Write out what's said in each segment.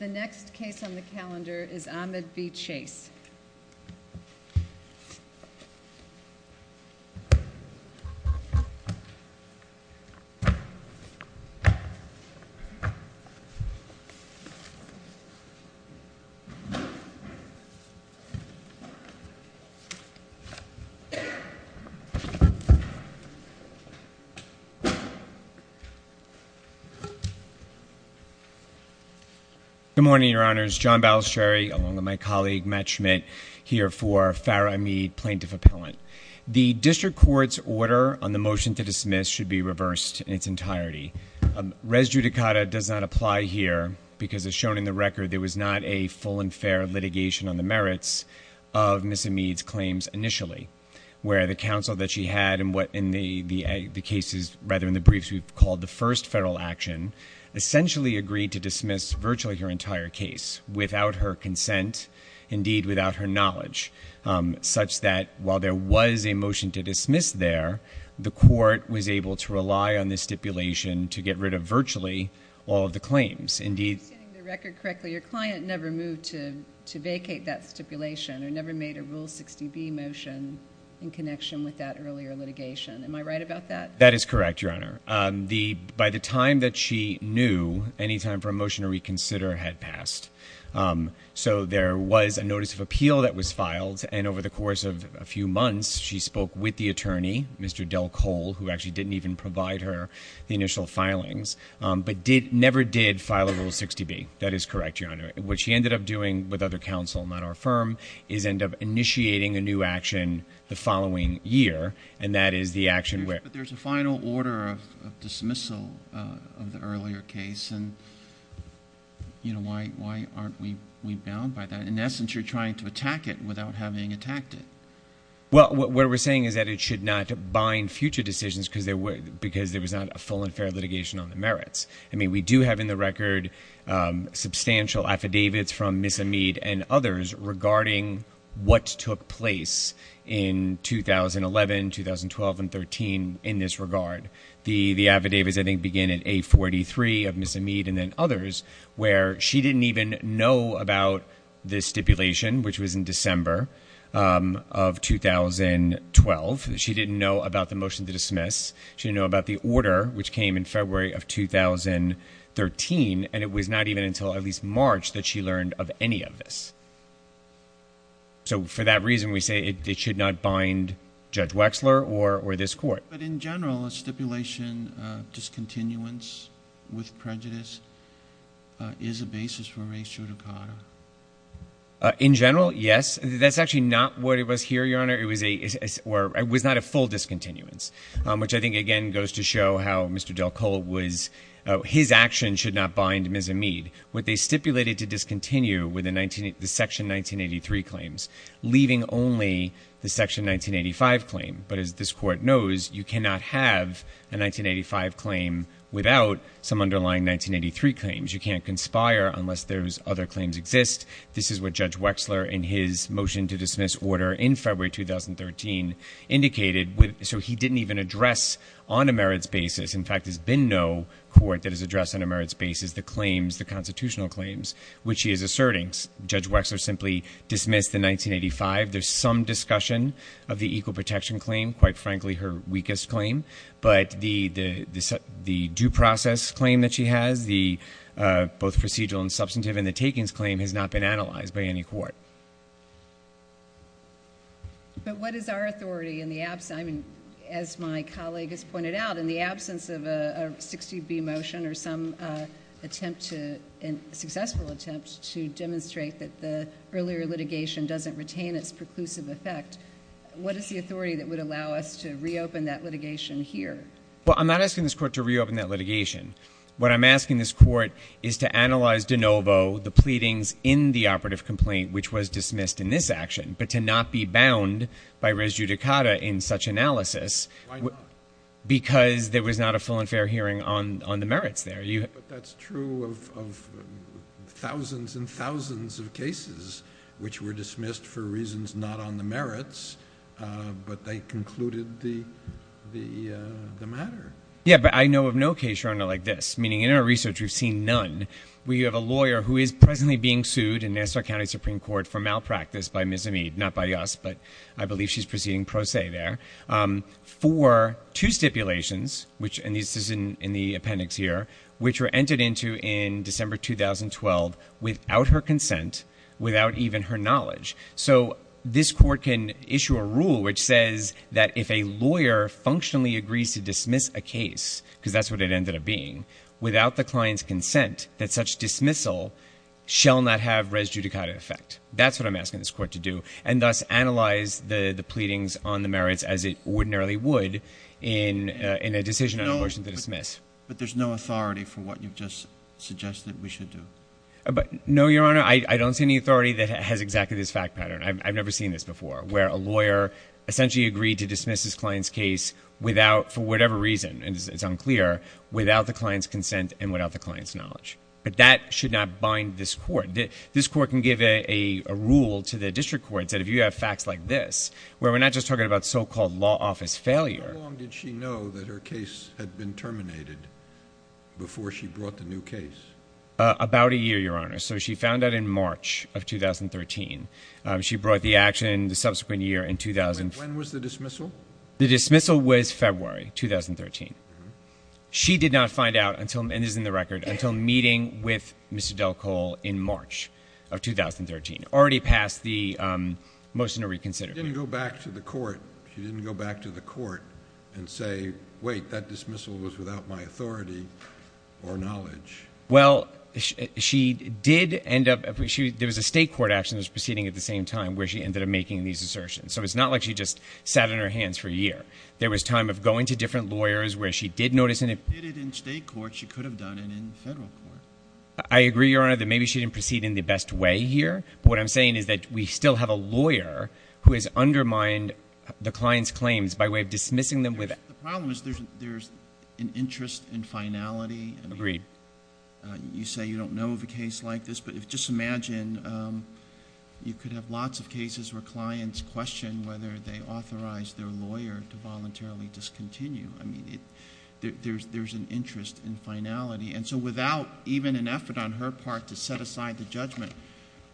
The next case on the calendar is Amid v. Chase. Good morning, Your Honors. John Balistrieri, along with my colleague Matt Schmidt, here for Farah Amid Plaintiff Appellant. The District Court's order on the motion to dismiss should be reversed in its entirety. Res judicata does not apply here because, as shown in the record, there was not a full and fair litigation on the merits of Ms. Amid's claims initially, where the counsel that she had in the briefs we've called the first federal action essentially agreed to dismiss virtually her entire case without her consent, indeed without her knowledge, such that while there was a motion to dismiss there, the court was able to rely on this stipulation to get rid of virtually all of the claims. Am I understanding the record correctly? Your client never moved to vacate that stipulation or never made a Rule 60B motion in connection with that earlier litigation. Am I right about that? That is correct, Your Honor. By the time that she knew, any time for a motion to reconsider had passed. So there was a notice of appeal that was filed, and over the course of a few months, she spoke with the attorney, Mr. Del Cole, who actually didn't even provide her the initial filings, but never did file a Rule 60B. That is correct, Your Honor. What she ended up doing with other counsel, not our firm, is end up initiating a new action the following year, and that is the action where— But there's a final order of dismissal of the earlier case, and why aren't we bound by that? In essence, you're trying to attack it without having attacked it. Well, what we're saying is that it should not bind future decisions because there was not a full and fair litigation on the merits. I mean, we do have in the record substantial affidavits from Ms. Amid and others regarding what took place in 2011, 2012, and 2013 in this regard. The affidavits, I think, begin in A43 of Ms. Amid and then others where she didn't even know about the stipulation, which was in December of 2012. She didn't know about the motion to dismiss. She didn't know about the order, which came in February of 2013, and it was not even until at least March that she learned of any of this. So for that reason, we say it should not bind Judge Wexler or this court. But in general, a stipulation of discontinuance with prejudice is a basis for res judicata. In general, yes. That's actually not what it was here, Your Honor. It was not a full discontinuance, which I think, again, goes to show how Mr. Del Colo was—his action should not bind Ms. Amid. What they stipulated to discontinue were the Section 1983 claims, leaving only the Section 1985 claim. But as this court knows, you cannot have a 1985 claim without some underlying 1983 claims. You can't conspire unless those other claims exist. This is what Judge Wexler, in his motion to dismiss order in February 2013, indicated. So he didn't even address on a merits basis—in fact, there's been no court that has addressed on a merits basis the claims, the constitutional claims, which he is asserting. Judge Wexler simply dismissed the 1985. There's some discussion of the equal protection claim, quite frankly her weakest claim. But the due process claim that she has, both procedural and substantive, and the takings claim has not been analyzed by any court. But what is our authority in the absence—I mean, as my colleague has pointed out, in the absence of a 60B motion or some attempt to—a successful attempt to demonstrate that the earlier litigation doesn't retain its preclusive effect, what is the authority that would allow us to reopen that litigation here? Well, I'm not asking this court to reopen that litigation. What I'm asking this court is to analyze de novo the pleadings in the operative complaint, which was dismissed in this action, but to not be bound by res judicata in such analysis. Why not? Because there was not a full and fair hearing on the merits there. But that's true of thousands and thousands of cases which were dismissed for reasons not on the merits, but they concluded the matter. Yeah, but I know of no case, Your Honor, like this, meaning in our research we've seen none. We have a lawyer who is presently being sued in Nassau County Supreme Court for malpractice by Ms. Amid, not by us, but I believe she's proceeding pro se there, for two stipulations, and this is in the appendix here, which were entered into in December 2012 without her consent, without even her knowledge. So this court can issue a rule which says that if a lawyer functionally agrees to dismiss a case, because that's what it ended up being, without the client's consent, that such dismissal shall not have res judicata effect. That's what I'm asking this court to do, and thus analyze the pleadings on the merits as it ordinarily would in a decision on abortion to dismiss. But there's no authority for what you've just suggested we should do. No, Your Honor, I don't see any authority that has exactly this fact pattern. I've never seen this before, where a lawyer essentially agreed to dismiss his client's case without, for whatever reason, and it's unclear, without the client's consent and without the client's knowledge. But that should not bind this court. This court can give a rule to the district courts that if you have facts like this, where we're not just talking about so-called law office failure. How long did she know that her case had been terminated before she brought the new case? About a year, Your Honor. So she found out in March of 2013. She brought the action the subsequent year in 2000. When was the dismissal? The dismissal was February 2013. She did not find out until, and this is in the record, until meeting with Mr. Del Cole in March of 2013, already past the motion to reconsider. She didn't go back to the court. She didn't go back to the court and say, wait, that dismissal was without my authority or knowledge. Well, she did end up, there was a state court action that was proceeding at the same time where she ended up making these assertions. So it's not like she just sat on her hands for a year. There was time of going to different lawyers where she did notice. If she did it in state court, she could have done it in federal court. I agree, Your Honor, that maybe she didn't proceed in the best way here. But what I'm saying is that we still have a lawyer who has undermined the client's claims by way of dismissing them. The problem is there's an interest in finality. Agreed. You say you don't know of a case like this, but just imagine you could have lots of cases where clients question whether they authorized their lawyer to voluntarily discontinue. I mean, there's an interest in finality. And so without even an effort on her part to set aside the judgment,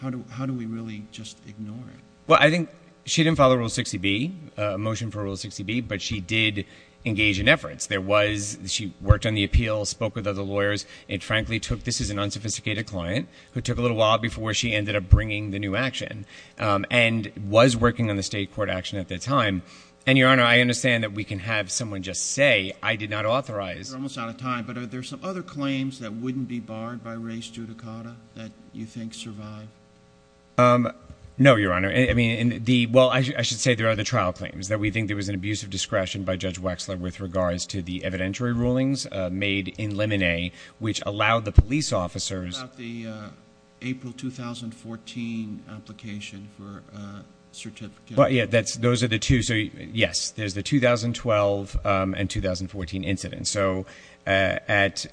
how do we really just ignore it? Well, I think she didn't follow Rule 60B, a motion for Rule 60B, but she did engage in efforts. There was – she worked on the appeal, spoke with other lawyers. It frankly took – this is an unsophisticated client who took a little while before she ended up bringing the new action and was working on the state court action at the time. And, Your Honor, I understand that we can have someone just say, I did not authorize. You're almost out of time, but are there some other claims that wouldn't be barred by res judicata that you think survived? No, Your Honor. Well, I should say there are the trial claims that we think there was an abuse of discretion by Judge Wexler with regards to the evidentiary rulings made in limine, which allowed the police officers – What about the April 2014 application for a certificate? Yeah, those are the two. So, yes, there's the 2012 and 2014 incidents. So, at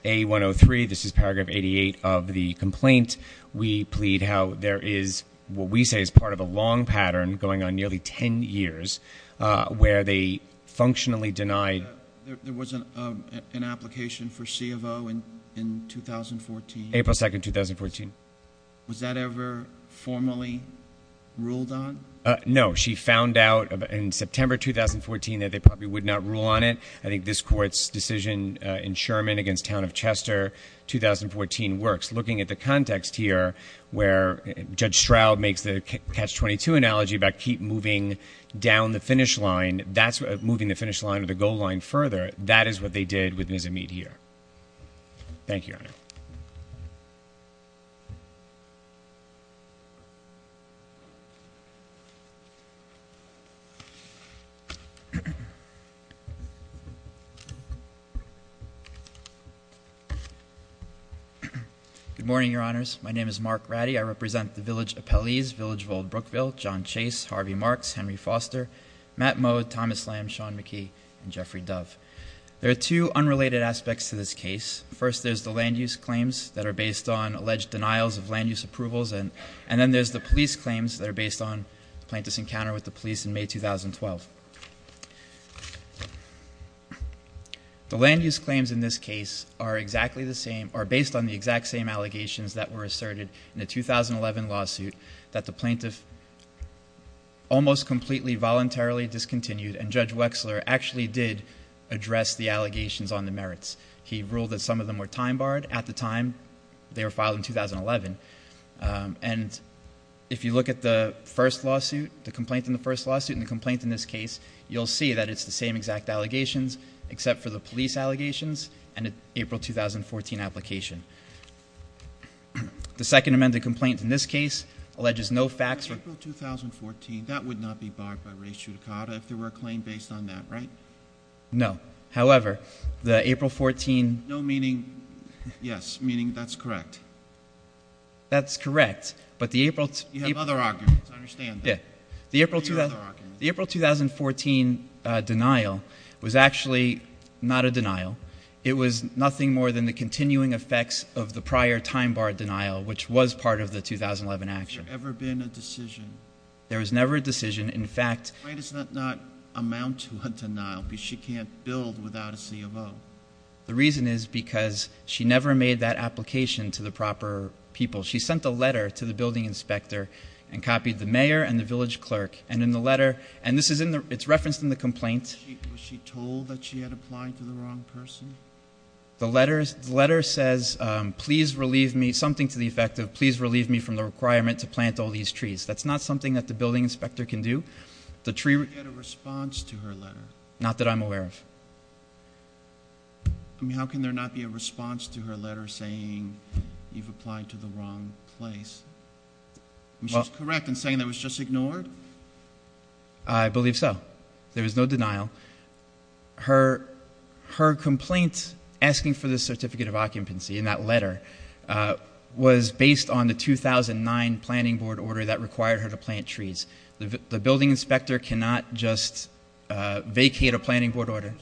A103, this is paragraph 88 of the complaint, we plead how there is what we say is part of a long pattern going on nearly 10 years where they functionally denied – There was an application for C of O in 2014. April 2, 2014. Was that ever formally ruled on? No. She found out in September 2014 that they probably would not rule on it. I think this Court's decision in Sherman against Town of Chester, 2014, works. Looking at the context here where Judge Stroud makes the catch-22 analogy about keep moving down the finish line, that's moving the finish line or the goal line further. That is what they did with Ms. Amit here. Thank you, Your Honor. Good morning, Your Honors. My name is Mark Ratty. I represent the village appellees, Village of Old Brookville, John Chase, Harvey Marks, Henry Foster, Matt Moe, Thomas Lamb, Sean McKee, and Jeffrey Dove. There are two unrelated aspects to this case. First, there's the land use claims that are based on alleged denials of land use approvals. And then there's the police claims that are based on the plaintiff's encounter with the police in May 2012. The land use claims in this case are based on the exact same allegations that were asserted in the 2011 lawsuit that the plaintiff almost completely voluntarily discontinued, and Judge Wexler actually did address the allegations on the merits. He ruled that some of them were time barred. At the time, they were filed in 2011. And if you look at the first lawsuit, the complaint in the first lawsuit and the complaint in this case, you'll see that it's the same exact allegations except for the police allegations and the April 2014 application. The second amended complaint in this case alleges no facts were- April 2014, that would not be barred by res judicata if there were a claim based on that, right? No. However, the April 14- No meaning yes, meaning that's correct. That's correct, but the April- You have other arguments. I understand that. The April 2014 denial was actually not a denial. It was nothing more than the continuing effects of the prior time bar denial, which was part of the 2011 action. Has there ever been a decision- There was never a decision. In fact- Why does that not amount to a denial because she can't build without a CFO? The reason is because she never made that application to the proper people. She sent a letter to the building inspector and copied the mayor and the village clerk. And in the letter, and this is in the- it's referenced in the complaint. Was she told that she had applied to the wrong person? The letter says, please relieve me, something to the effect of, please relieve me from the requirement to plant all these trees. That's not something that the building inspector can do. She had a response to her letter. Not that I'm aware of. How can there not be a response to her letter saying you've applied to the wrong place? She's correct in saying that it was just ignored? I believe so. There was no denial. Her complaint asking for this certificate of occupancy in that letter was based on the 2009 planning board order that required her to plant trees. The building inspector cannot just vacate a planning board order.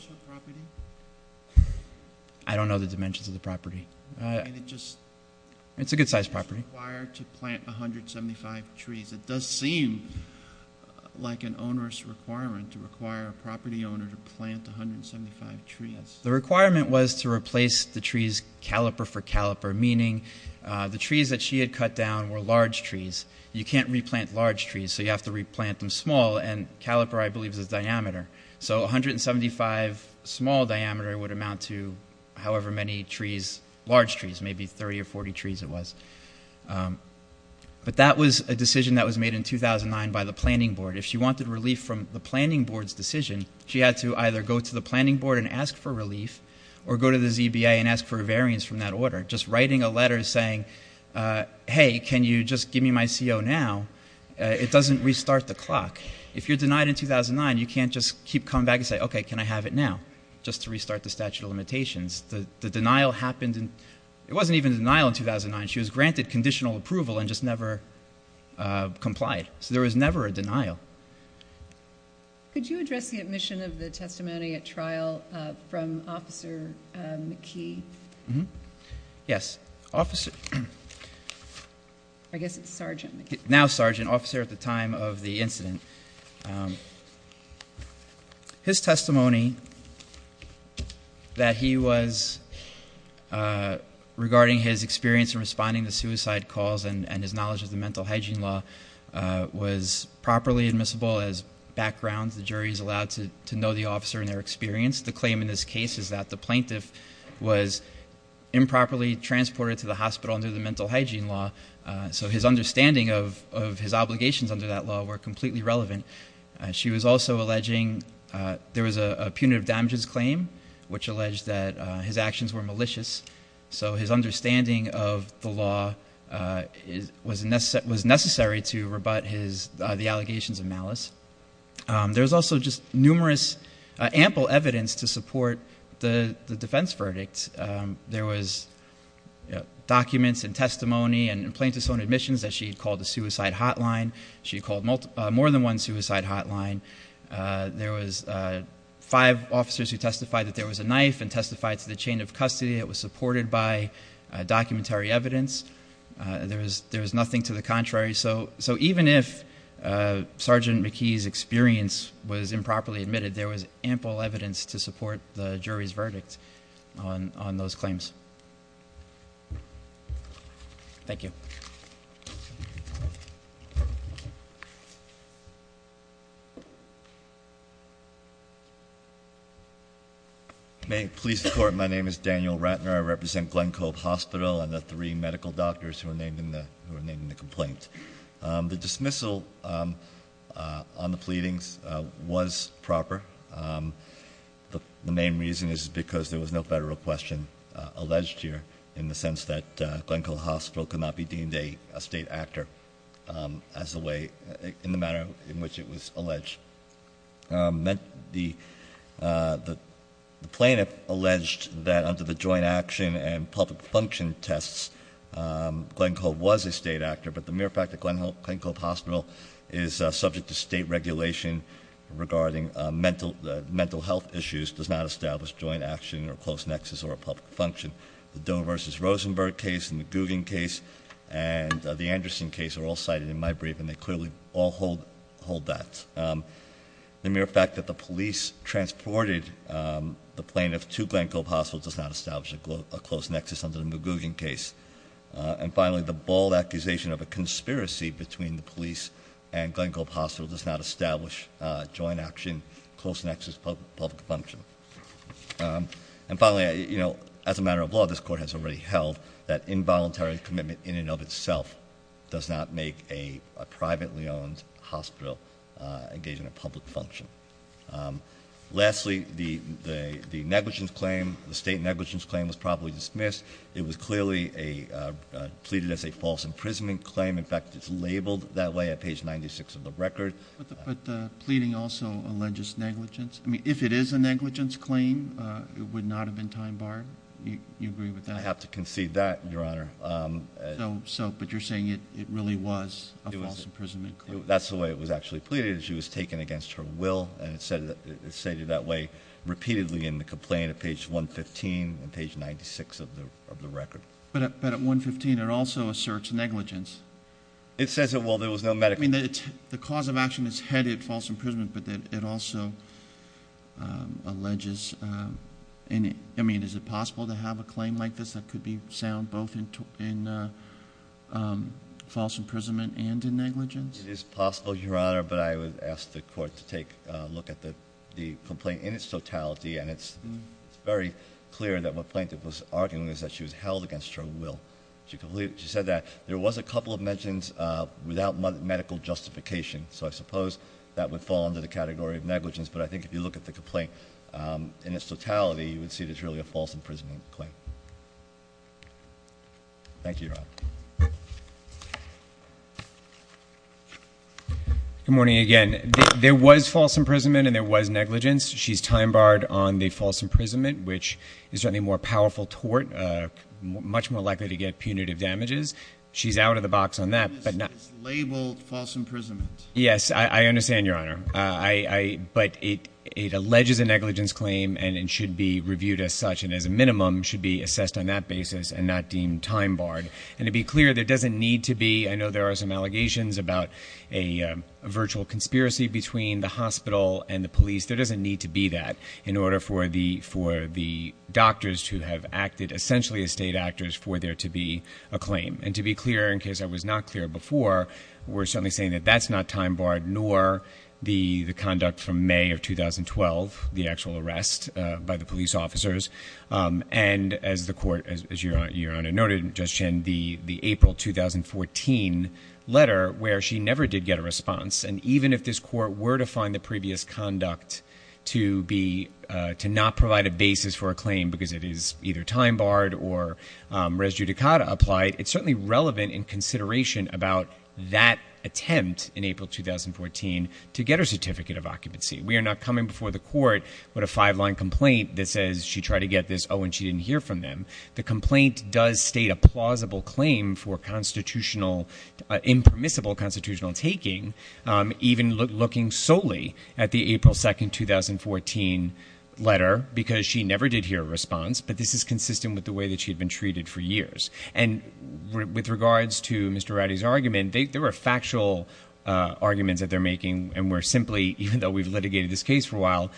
I don't know the dimensions of the property. It's a good-sized property. It's required to plant 175 trees. It does seem like an onerous requirement to require a property owner to plant 175 trees. The requirement was to replace the trees caliper for caliper, meaning the trees that she had cut down were large trees. You can't replant large trees, so you have to replant them small, and caliper, I believe, is diameter. So 175 small diameter would amount to however many trees, large trees, maybe 30 or 40 trees it was. But that was a decision that was made in 2009 by the planning board. If she wanted relief from the planning board's decision, she had to either go to the planning board and ask for relief or go to the ZBA and ask for a variance from that order. Just writing a letter saying, hey, can you just give me my CO now, it doesn't restart the clock. If you're denied in 2009, you can't just keep coming back and say, okay, can I have it now, just to restart the statute of limitations. The denial happened in ‑‑ it wasn't even denial in 2009. She was granted conditional approval and just never complied. So there was never a denial. Could you address the admission of the testimony at trial from Officer McKee? Yes. I guess it's Sergeant McKee. Now Sergeant, officer at the time of the incident. His testimony that he was regarding his experience in responding to suicide calls and his knowledge of the mental hygiene law was properly admissible as background. The jury is allowed to know the officer and their experience. The claim in this case is that the plaintiff was improperly transported to the hospital under the mental hygiene law. So his understanding of his obligations under that law were completely relevant. She was also alleging there was a punitive damages claim which alleged that his actions were malicious. So his understanding of the law was necessary to rebut the allegations of malice. There was also just numerous ample evidence to support the defense verdict. There was documents and testimony and plaintiff's own admissions that she had called a suicide hotline. She had called more than one suicide hotline. There was five officers who testified that there was a knife and testified to the chain of custody. It was supported by documentary evidence. There was nothing to the contrary. So even if Sergeant McKee's experience was improperly admitted, there was ample evidence to support the jury's verdict on those claims. Thank you. May it please the court, my name is Daniel Ratner. I represent Glen Cove Hospital and the three medical doctors who were named in the complaint. The dismissal on the pleadings was proper. The main reason is because there was no federal question alleged here in the sense that Glen Cove Hospital could not be deemed a state actor in the manner in which it was alleged. The plaintiff alleged that under the joint action and public function tests, Glen Cove was a state actor, but the mere fact that Glen Cove Hospital is subject to state regulation regarding mental health issues does not establish joint action or close nexus or a public function. The Doe versus Rosenberg case and the Gugin case and the Anderson case are all cited in my brief and they clearly all hold that. The mere fact that the police transported the plaintiff to Glen Cove Hospital does not establish a close nexus under the Gugin case. And finally, the bold accusation of a conspiracy between the police and Glen Cove Hospital does not establish joint action, close nexus, public function. And finally, as a matter of law, this court has already held that involuntary commitment in and of itself does not make a privately owned hospital engage in a public function. Lastly, the negligence claim, the state negligence claim was properly dismissed. It was clearly pleaded as a false imprisonment claim. In fact, it's labeled that way at page 96 of the record. But the pleading also alleges negligence. I mean, if it is a negligence claim, it would not have been time barred. You agree with that? I have to concede that, Your Honor. So, but you're saying it really was a false imprisonment claim. That's the way it was actually pleaded. She was taken against her will, and it's stated that way repeatedly in the complaint at page 115 and page 96 of the record. But at 115, it also asserts negligence. It says that while there was no medical... I mean, the cause of action is headed false imprisonment, but it also alleges... I mean, is it possible to have a claim like this that could be sound both in false imprisonment and in negligence? It is possible, Your Honor, but I would ask the court to take a look at the complaint in its totality, and it's very clear that what Plaintiff was arguing is that she was held against her will. She said that there was a couple of mentions without medical justification, so I suppose that would fall under the category of negligence. But I think if you look at the complaint in its totality, you would see that it's really a false imprisonment claim. Thank you. Good morning again. There was false imprisonment and there was negligence. She's time barred on the false imprisonment, which is certainly a more powerful tort, much more likely to get punitive damages. She's out of the box on that, but not... It's labeled false imprisonment. Yes, I understand, Your Honor. But it alleges a negligence claim and it should be reviewed as such, and as a minimum should be assessed on that basis and not deemed time barred. And to be clear, there doesn't need to be... I know there are some allegations about a virtual conspiracy between the hospital and the police. There doesn't need to be that in order for the doctors to have acted essentially as state actors for there to be a claim. And to be clear, in case I was not clear before, we're certainly saying that that's not time barred, nor the conduct from May of 2012, the actual arrest by the police officers, and as the court, as Your Honor noted, Judge Chin, the April 2014 letter where she never did get a response. And even if this court were to find the previous conduct to not provide a basis for a claim because it is either time barred or res judicata applied, it's certainly relevant in consideration about that attempt in April 2014 to get her certificate of occupancy. We are not coming before the court with a five-line complaint that says she tried to get this, oh, and she didn't hear from them. The complaint does state a plausible claim for constitutional, impermissible constitutional taking, even looking solely at the April 2, 2014 letter because she never did hear a response, but this is consistent with the way that she had been treated for years. And with regards to Mr. Rowdy's argument, there were factual arguments that they're making, and we're simply, even though we've litigated this case for a while,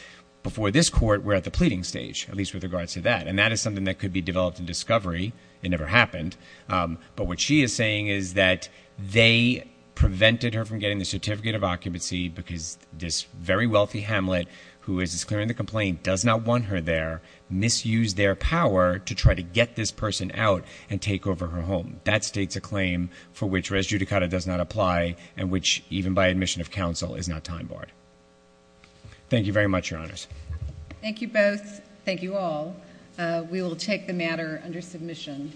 before this court, we're at the pleading stage, at least with regards to that. And that is something that could be developed in discovery. It never happened. But what she is saying is that they prevented her from getting the certificate of occupancy because this very wealthy hamlet who is disclaiming the complaint does not want her there, misused their power to try to get this person out and take over her home. That states a claim for which res judicata does not apply and which, even by admission of counsel, is not time barred. Thank you very much, Your Honors. Thank you both. Thank you all. We will take the matter under submission.